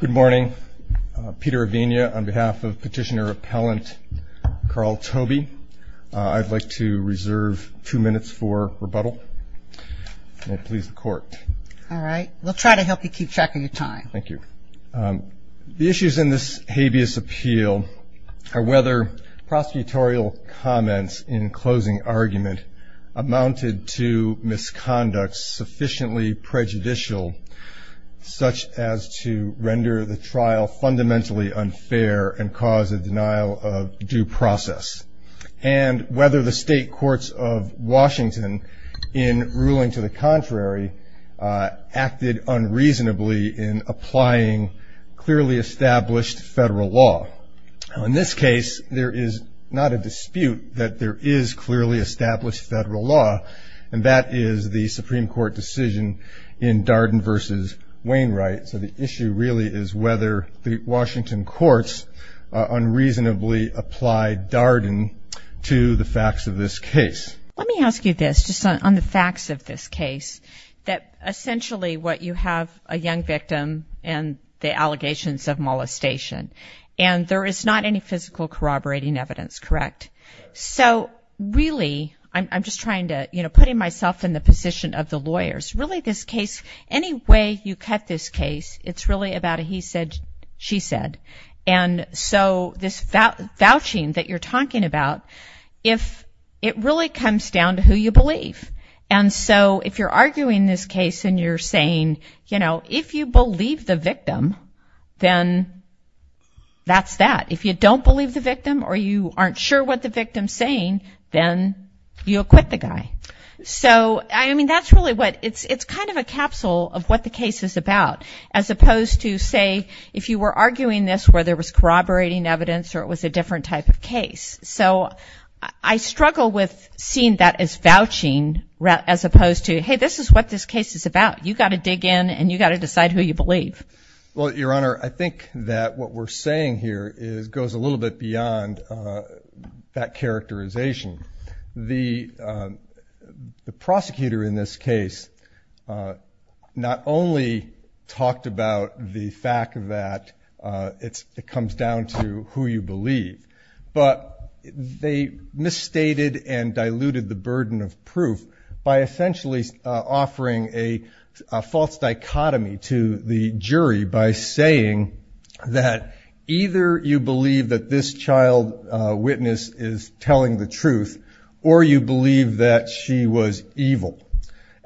Good morning. Peter Avenia on behalf of petitioner appellant Carl Tobey. I'd like to reserve two minutes for rebuttal. May it please the court. All right. We'll try to help you keep track of your time. Thank you. The issues in this habeas appeal are whether prosecutorial comments in closing argument amounted to misconduct sufficiently prejudicial, such as to render the trial fundamentally unfair and cause a denial of due process, and whether the state courts of Washington, in ruling to the contrary, acted unreasonably in applying clearly established federal law. In this case, there is not a dispute that there is clearly established federal law, and that is the Supreme Court decision in Darden v. Wainwright. So the issue really is whether the Washington courts unreasonably applied Darden to the facts of this case. Let me ask you this, just on the facts of this case, that essentially what you have a young victim and the allegations of molestation, and there is not any physical corroborating evidence, correct? So really, I'm just trying to, you know, putting myself in the position of the lawyers. Really this case, any way you cut this case, it's really about a he said, she said. And so this vouching that you're talking about, it really comes down to who you believe. And so if you're arguing this case and you're saying, you know, if you believe the victim, then that's that. If you don't believe the victim or you aren't sure what the victim is saying, then you acquit the guy. So, I mean, that's really what, it's kind of a capsule of what the case is about, as opposed to, say, if you were arguing this where there was corroborating evidence or it was a different type of case. So I struggle with seeing that as vouching as opposed to, hey, this is what this case is about. You've got to dig in and you've got to decide who you believe. Well, Your Honor, I think that what we're saying here goes a little bit beyond that characterization. The prosecutor in this case not only talked about the fact that it comes down to who you believe, but they misstated and diluted the burden of proof by essentially offering a false dichotomy to the jury by saying that either you believe that this child witness is telling the truth or you believe that she was evil.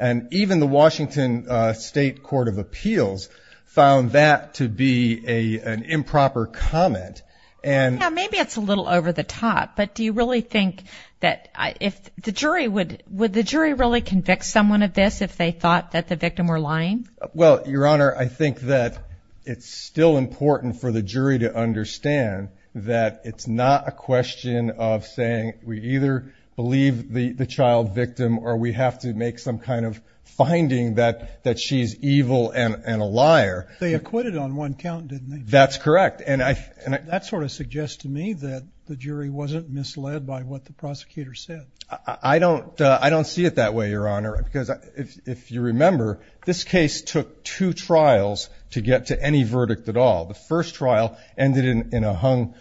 And even the Washington State Court of Appeals found that to be an improper comment. Yeah, maybe it's a little over the top, but do you really think that, if the jury, would the jury really convict someone of this if they thought that the victim were lying? Well, Your Honor, I think that it's still important for the jury to understand that it's not a question of saying we either believe the child victim or we have to make some kind of finding that she's evil and a liar. They acquitted on one count, didn't they? That's correct. That sort of suggests to me that the jury wasn't misled by what the prosecutor said. I don't see it that way, Your Honor, because if you remember, this case took two trials to get to any verdict at all. The first trial ended in a hung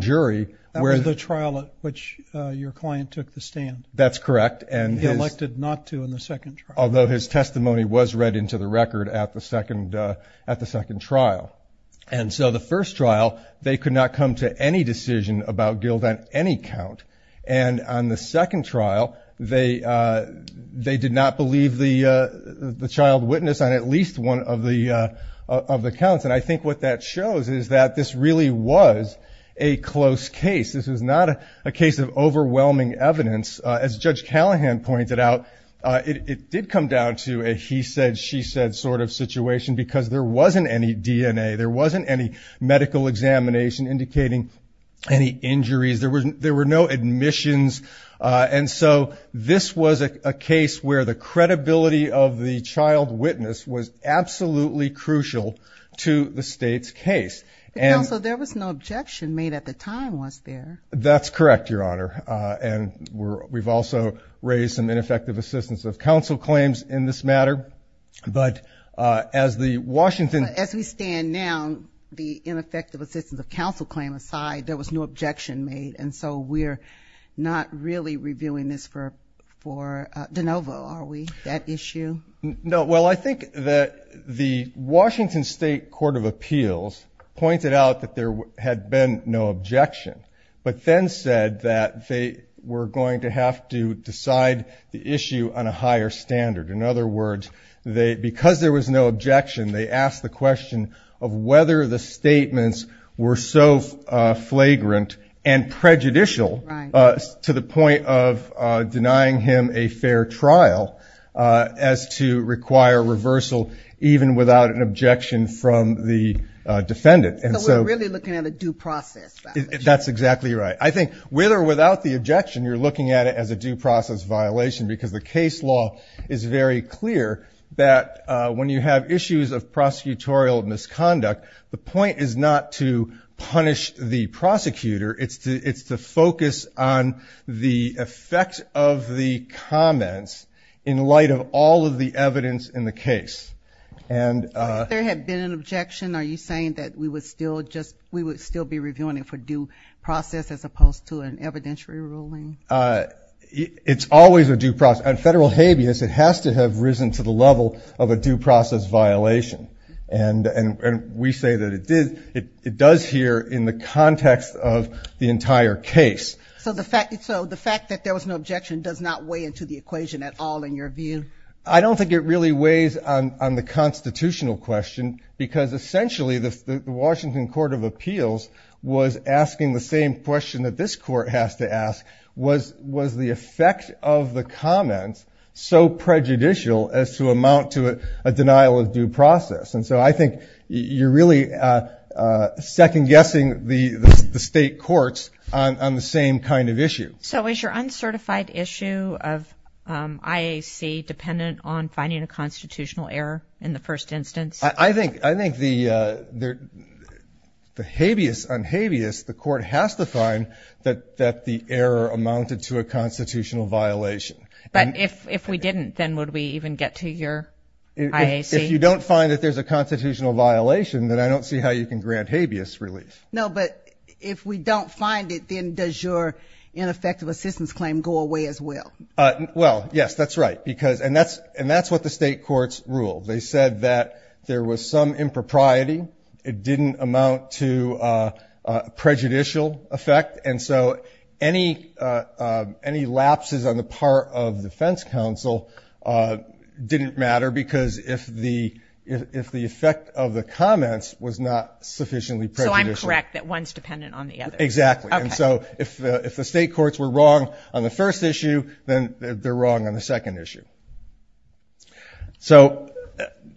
jury. That was the trial at which your client took the stand. That's correct. He elected not to in the second trial. Although his testimony was read into the record at the second trial. And so the first trial, they could not come to any decision about Guild on any count. And on the second trial, they did not believe the child witness on at least one of the counts. And I think what that shows is that this really was a close case. This was not a case of overwhelming evidence. As Judge Callahan pointed out, it did come down to a he said, she said sort of situation because there wasn't any DNA. There wasn't any medical examination indicating any injuries. There were no admissions. And so this was a case where the credibility of the child witness was absolutely crucial to the state's case. So there was no objection made at the time, was there? That's correct, Your Honor. And we've also raised some ineffective assistance of counsel claims in this matter. But as the Washington as we stand now, the ineffective assistance of counsel claim aside, there was no objection made. And so we're not really reviewing this for for DeNovo. Are we that issue? No. Well, I think that the Washington State Court of Appeals pointed out that there had been no objection. But then said that they were going to have to decide the issue on a higher standard. In other words, they because there was no objection, they asked the question of whether the statements were so flagrant and prejudicial to the point of denying him a fair trial. As to require reversal, even without an objection from the defendant. And so we're really looking at a due process. That's exactly right. I think with or without the objection, you're looking at it as a due process violation, because the case law is very clear that when you have issues of prosecutorial misconduct, the point is not to punish the prosecutor. It's to it's to focus on the effects of the comments in light of all of the evidence in the case. And there had been an objection. Are you saying that we would still just we would still be reviewing it for due process as opposed to an evidentiary ruling? It's always a due process and federal habeas. It has to have risen to the level of a due process violation. And we say that it did. It does here in the context of the entire case. So the fact so the fact that there was no objection does not weigh into the equation at all. In your view, I don't think it really weighs on the constitutional question, because essentially the Washington Court of Appeals was asking the same question that this court has to ask. Was was the effect of the comments so prejudicial as to amount to a denial of due process? And so I think you're really second guessing the state courts on the same kind of issue. So is your uncertified issue of IAC dependent on finding a constitutional error in the first instance? I think I think the there the habeas unhabeas. The court has to find that that the error amounted to a constitutional violation. But if if we didn't, then would we even get to your eyes? If you don't find that there's a constitutional violation, then I don't see how you can grant habeas relief. No, but if we don't find it, then does your ineffective assistance claim go away as well? Well, yes, that's right. Because and that's and that's what the state courts rule. They said that there was some impropriety. It didn't amount to prejudicial effect. And so any any lapses on the part of defense counsel didn't matter because if the if the effect of the comments was not sufficiently. So I'm correct that one's dependent on the other. Exactly. And so if if the state courts were wrong on the first issue, then they're wrong on the second issue. So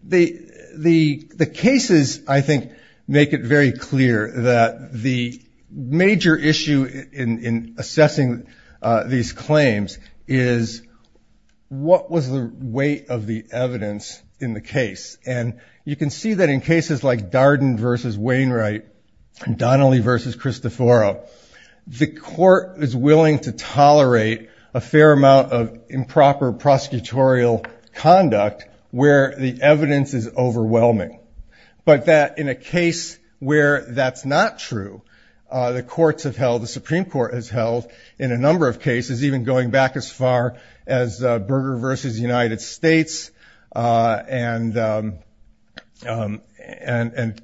the the the cases, I think, make it very clear that the major issue in assessing these claims is. What was the weight of the evidence in the case? And you can see that in cases like Darden versus Wainwright, Donnelly versus Christophero, the court is willing to tolerate a fair amount of improper prosecutorial conduct where the evidence is overwhelming. But that in a case where that's not true, the courts have held the Supreme Court has held in a number of cases, even going back as far as Berger versus United States and and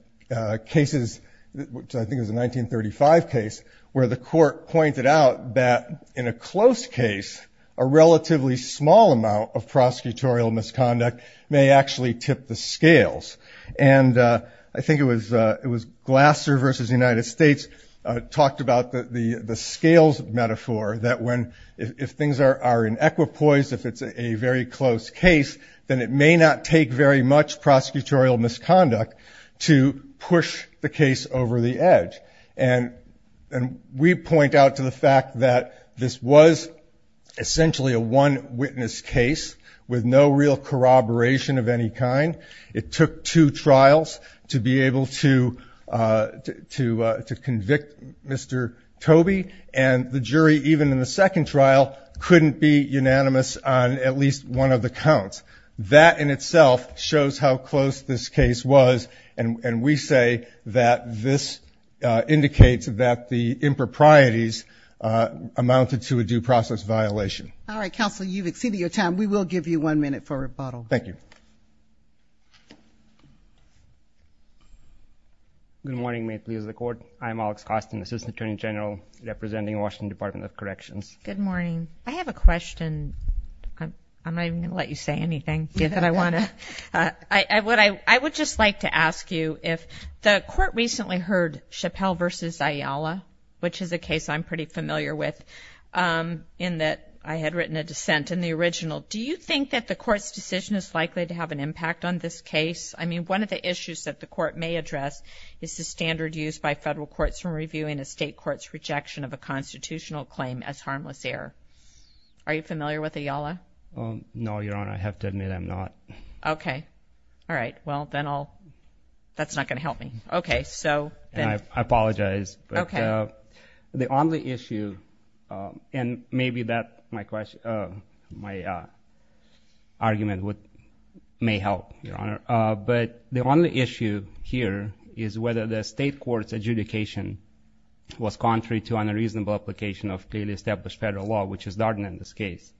cases, which I think is a 1935 case where the court pointed out that in a close case, a relatively small amount of prosecutorial misconduct may actually tip the scales. And I think it was it was Glasser versus the United States talked about the scales metaphor, that when if things are in equipoise, if it's a very close case, then it may not take very much prosecutorial misconduct to push the case over the edge. And and we point out to the fact that this was essentially a one witness case with no real corroboration of any kind. It took two trials to be able to to to convict Mr. Toby and the jury, even in the second trial, couldn't be unanimous on at least one of the counts. That in itself shows how close this case was. And we say that this indicates that the improprieties amounted to a due process violation. All right. Counsel, you've exceeded your time. We will give you one minute for rebuttal. Thank you. Good morning. May it please the court. I'm Alex Costin, assistant attorney general representing Washington Department of Corrections. Good morning. I have a question. I'm not going to let you say anything that I want to. I would I would just like to ask you if the court recently heard Chappelle versus Ayala, which is a case I'm pretty familiar with in that I had written a dissent in the original. Do you think that the court's decision is likely to have an impact on this case? I mean, one of the issues that the court may address is the standard used by federal courts from reviewing a state court's rejection of a constitutional claim as harmless error. Are you familiar with Ayala? No, Your Honor. I have to admit I'm not. OK. All right. Well, then I'll that's not going to help me. OK. So I apologize. OK. The only issue and maybe that my question, my argument would may help, Your Honor. But the only issue here is whether the state court's adjudication was contrary to unreasonable application of clearly established federal law, which is Darden in this case.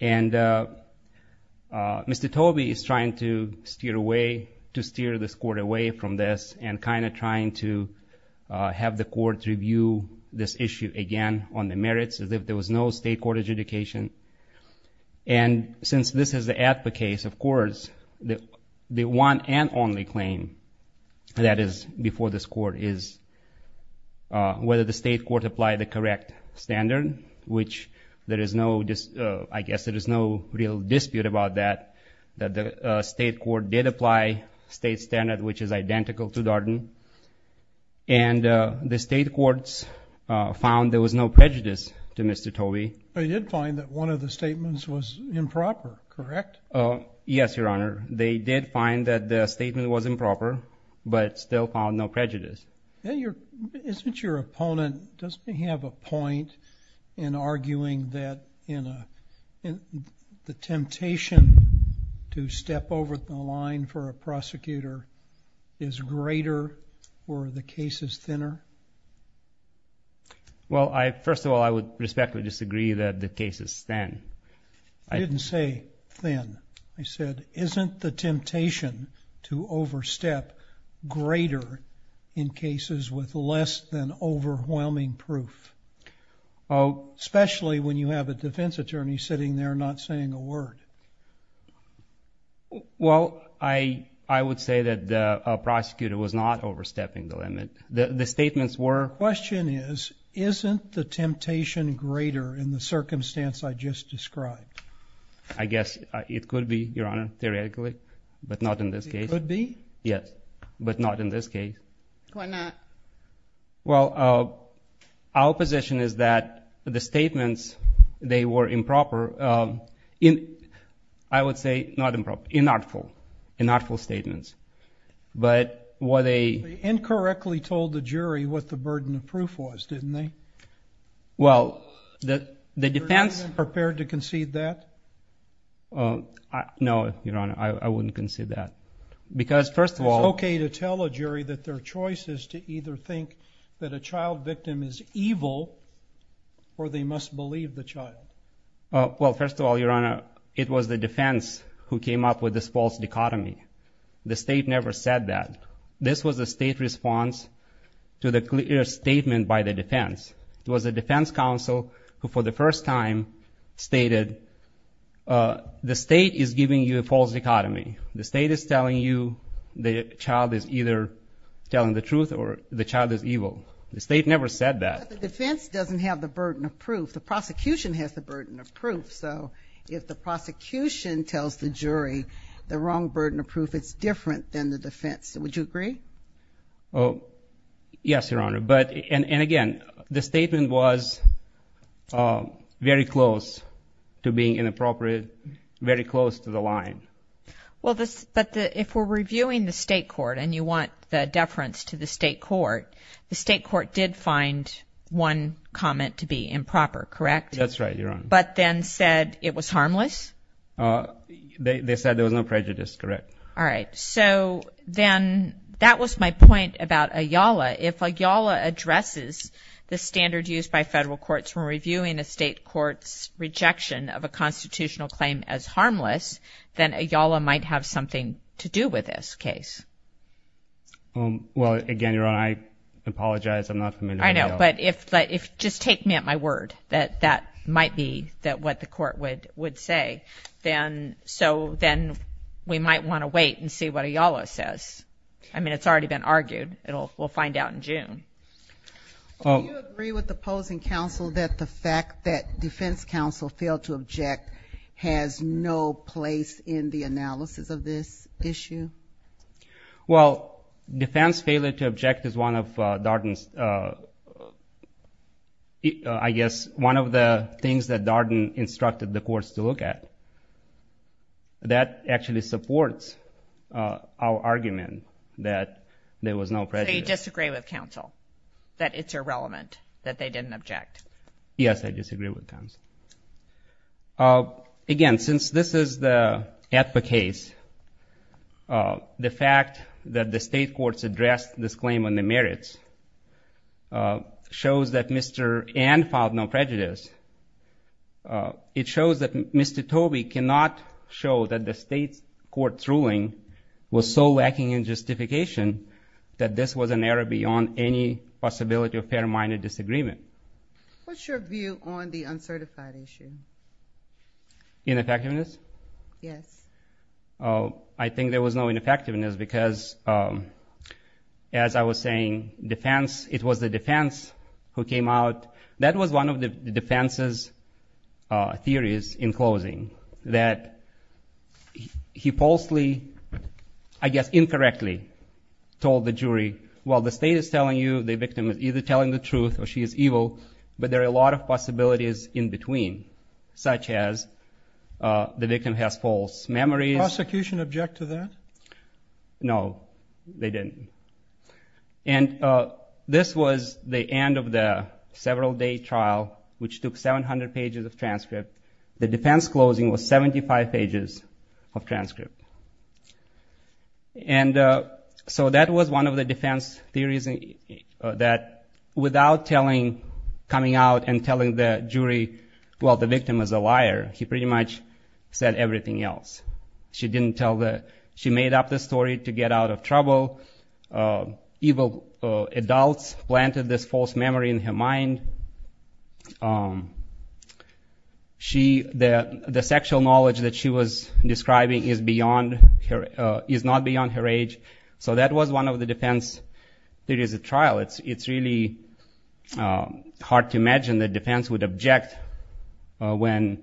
And Mr. Tobey is trying to steer away to steer this court away from this and kind of trying to have the court review this issue again on the merits as if there was no state court adjudication. And since this is the case, of course, the one and only claim that is before this court is whether the state court apply the correct standard, which there is no just I guess there is no real dispute about that, that the state court did apply state standard, which is identical to Darden and the state courts found there was no prejudice to Mr. Tobey. They did find that one of the statements was improper, correct? Oh, yes, Your Honor. They did find that the statement was improper, but still found no prejudice. And your isn't your opponent doesn't have a point in arguing that in the temptation to step over the line for a prosecutor is greater or the case is thinner. Well, I first of all, I would respectfully disagree that the case is thin. I didn't say thin. I said, isn't the temptation to overstep greater in cases with less than overwhelming proof? Oh, especially when you have a defense attorney sitting there not saying a word. Well, I I would say that the prosecutor was not overstepping the limit. The statements were question is, isn't the temptation greater in the circumstance I just described? I guess it could be, Your Honor, theoretically, but not in this case would be. Yes, but not in this case. Why not? Well, our position is that the statements they were improper in, I would say, not improper, inartful, inartful statements. But what they incorrectly told the jury what the burden of proof was, didn't they? Well, the defense prepared to concede that. Oh, no, Your Honor, I wouldn't concede that. Because, first of all... It's okay to tell a jury that their choice is to either think that a child victim is evil or they must believe the child. Well, first of all, Your Honor, it was the defense who came up with this false dichotomy. The state never said that. This was a state response to the clear statement by the defense. It was the defense counsel who, for the first time, stated the state is giving you a false dichotomy. The state is telling you the child is either telling the truth or the child is evil. The state never said that. But the defense doesn't have the burden of proof. The prosecution has the burden of proof. So, if the prosecution tells the jury the wrong burden of proof, it's different than the defense. Would you agree? Oh, yes, Your Honor. And, again, the statement was very close to being inappropriate, very close to the line. Well, but if we're reviewing the state court and you want the deference to the state court, the state court did find one comment to be improper, correct? That's right, Your Honor. But then said it was harmless? They said there was no prejudice, correct. All right. So, then, that was my point about Ayala. If Ayala addresses the standard used by federal courts when reviewing a state court's rejection of a constitutional claim as harmless, then Ayala might have something to do with this case. Well, again, Your Honor, I apologize. I'm not familiar with Ayala. I know. But just take me at my word that that might be what the court would say. So, then, we might want to wait and see what Ayala says. I mean, it's already been argued. We'll find out in June. Do you agree with the opposing counsel that the fact that defense counsel failed to object has no place in the analysis of this issue? Well, defense failure to object is one of Darden's, I guess, one of the things that Darden instructed the courts to look at. That actually supports our argument that there was no prejudice. So, you disagree with counsel that it's irrelevant that they didn't object? Yes, I disagree with counsel. Again, since this is the APPA case, the fact that the state courts addressed this claim on the merits shows that Mr. Ann filed no prejudice. It shows that Mr. Tobey cannot show that the state court's ruling was so lacking in justification that this was an error beyond any possibility of fair-minded disagreement. What's your view on the uncertified issue? Ineffectiveness? Yes. I think there was no ineffectiveness because, as I was saying, it was the defense who came out. That was one of the defense's theories in closing, that he falsely, I guess incorrectly, told the jury, well, the state is telling you the victim is either telling the truth or she is evil, but there are a lot of possibilities in between, such as the victim has false memories. Prosecution object to that? No, they didn't. And this was the end of the several-day trial, which took 700 pages of transcript. The defense closing was 75 pages of transcript. And so that was one of the defense theories, that without coming out and telling the jury, well, the victim is a liar, he pretty much said everything else. She made up the story to get out of trouble. Evil adults planted this false memory in her mind. The sexual knowledge that she was describing is not beyond her age. So that was one of the defense theories at trial. It's really hard to imagine the defense would object when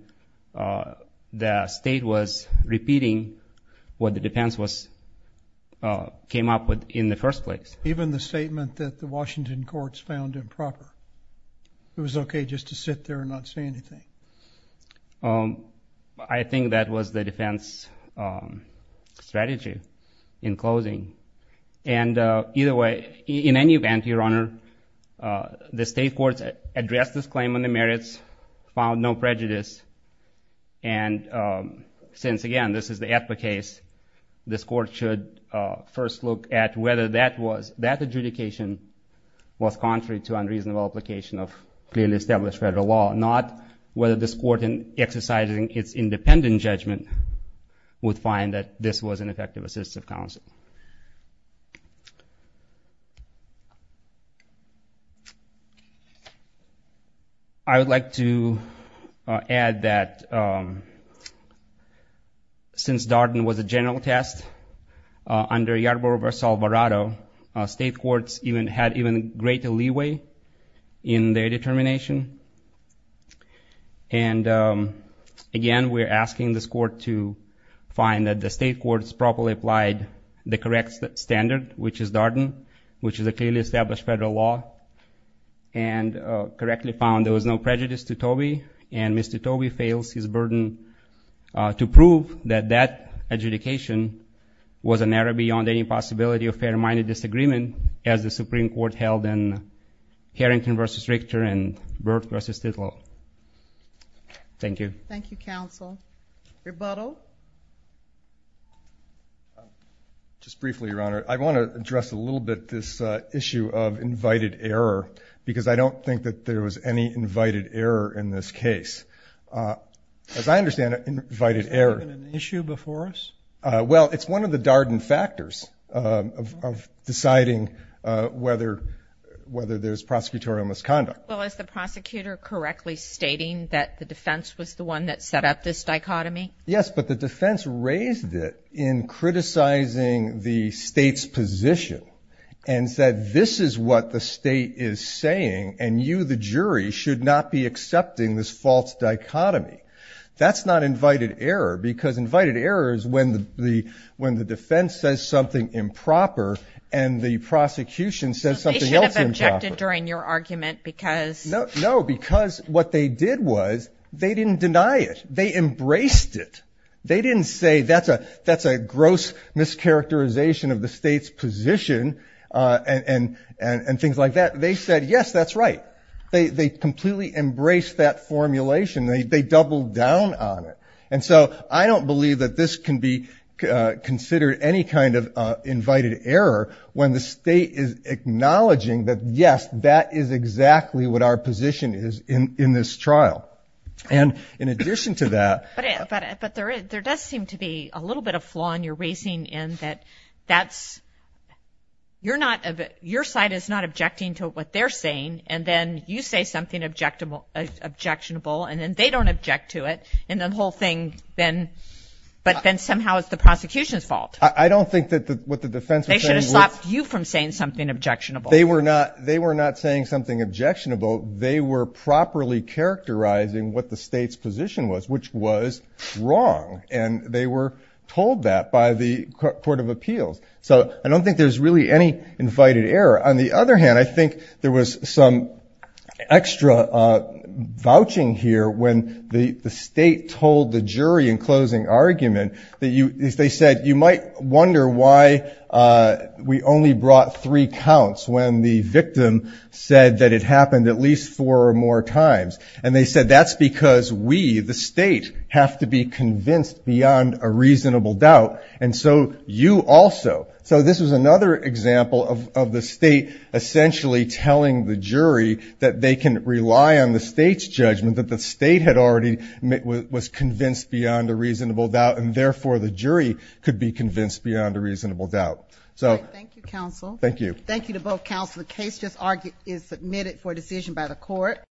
the state was repeating what the defense came up with in the first place. Even the statement that the Washington courts found improper. It was okay just to sit there and not say anything. I think that was the defense strategy in closing. And either way, in any event, Your Honor, the state courts addressed this claim on the merits, found no prejudice. And since, again, this is the Atla case, this court should first look at whether that adjudication was contrary to unreasonable application of clearly established federal law. Not whether this court, in exercising its independent judgment, would find that this was an effective assistive counsel. I would like to add that since Darden was a general test, under Yarbrough v. Alvarado, state courts had even greater leeway in their determination. And again, we're asking this court to find that the state courts properly applied the correct standard, which is Darden, which is a clearly established federal law, and correctly found there was no prejudice to Tobey. And Mr. Tobey fails his burden to prove that that adjudication was an error beyond any possibility of fair-minded disagreement, as the Supreme Court held in Harrington v. Richter and Burt v. Tittle. Thank you. Thank you, counsel. Rebuttal? Just briefly, Your Honor, I want to address a little bit this issue of invited error, because I don't think that there was any invited error in this case. As I understand it, invited error. Was there an issue before us? Well, it's one of the Darden factors of deciding whether there's prosecutorial misconduct. Well, is the prosecutor correctly stating that the defense was the one that set up this dichotomy? Yes, but the defense raised it in criticizing the state's position and said this is what the state is saying and you, the jury, should not be accepting this false dichotomy. That's not invited error, because invited error is when the defense says something improper and the prosecution says something else improper. So they should have objected during your argument because? No, because what they did was they didn't deny it. They embraced it. They didn't say that's a gross mischaracterization of the state's position and things like that. They said, yes, that's right. They completely embraced that formulation. They doubled down on it. And so I don't believe that this can be considered any kind of invited error when the state is acknowledging that, yes, that is exactly what our position is in this trial. And in addition to that. But there does seem to be a little bit of flaw in your raising in that that's, you're not, your side is not objecting to what they're saying and then you say something objectionable and then they don't object to it and the whole thing then, but then somehow it's the prosecution's fault. I don't think that what the defense was saying was. They should have stopped you from saying something objectionable. They were not saying something objectionable. They were properly characterizing what the state's position was, which was wrong. And they were told that by the Court of Appeals. So I don't think there's really any invited error. On the other hand, I think there was some extra vouching here when the state told the jury in closing argument that they said you might wonder why we only brought three counts when the victim said that it happened at least four or more times. And they said that's because we, the state, have to be convinced beyond a reasonable doubt. And so you also. So this was another example of the state essentially telling the jury that they can rely on the state's judgment, that the state had already was convinced beyond a reasonable doubt and therefore the jury could be convinced beyond a reasonable doubt. So. Thank you, counsel. Thank you. Thank you to both counsel. The case just is submitted for decision by the court.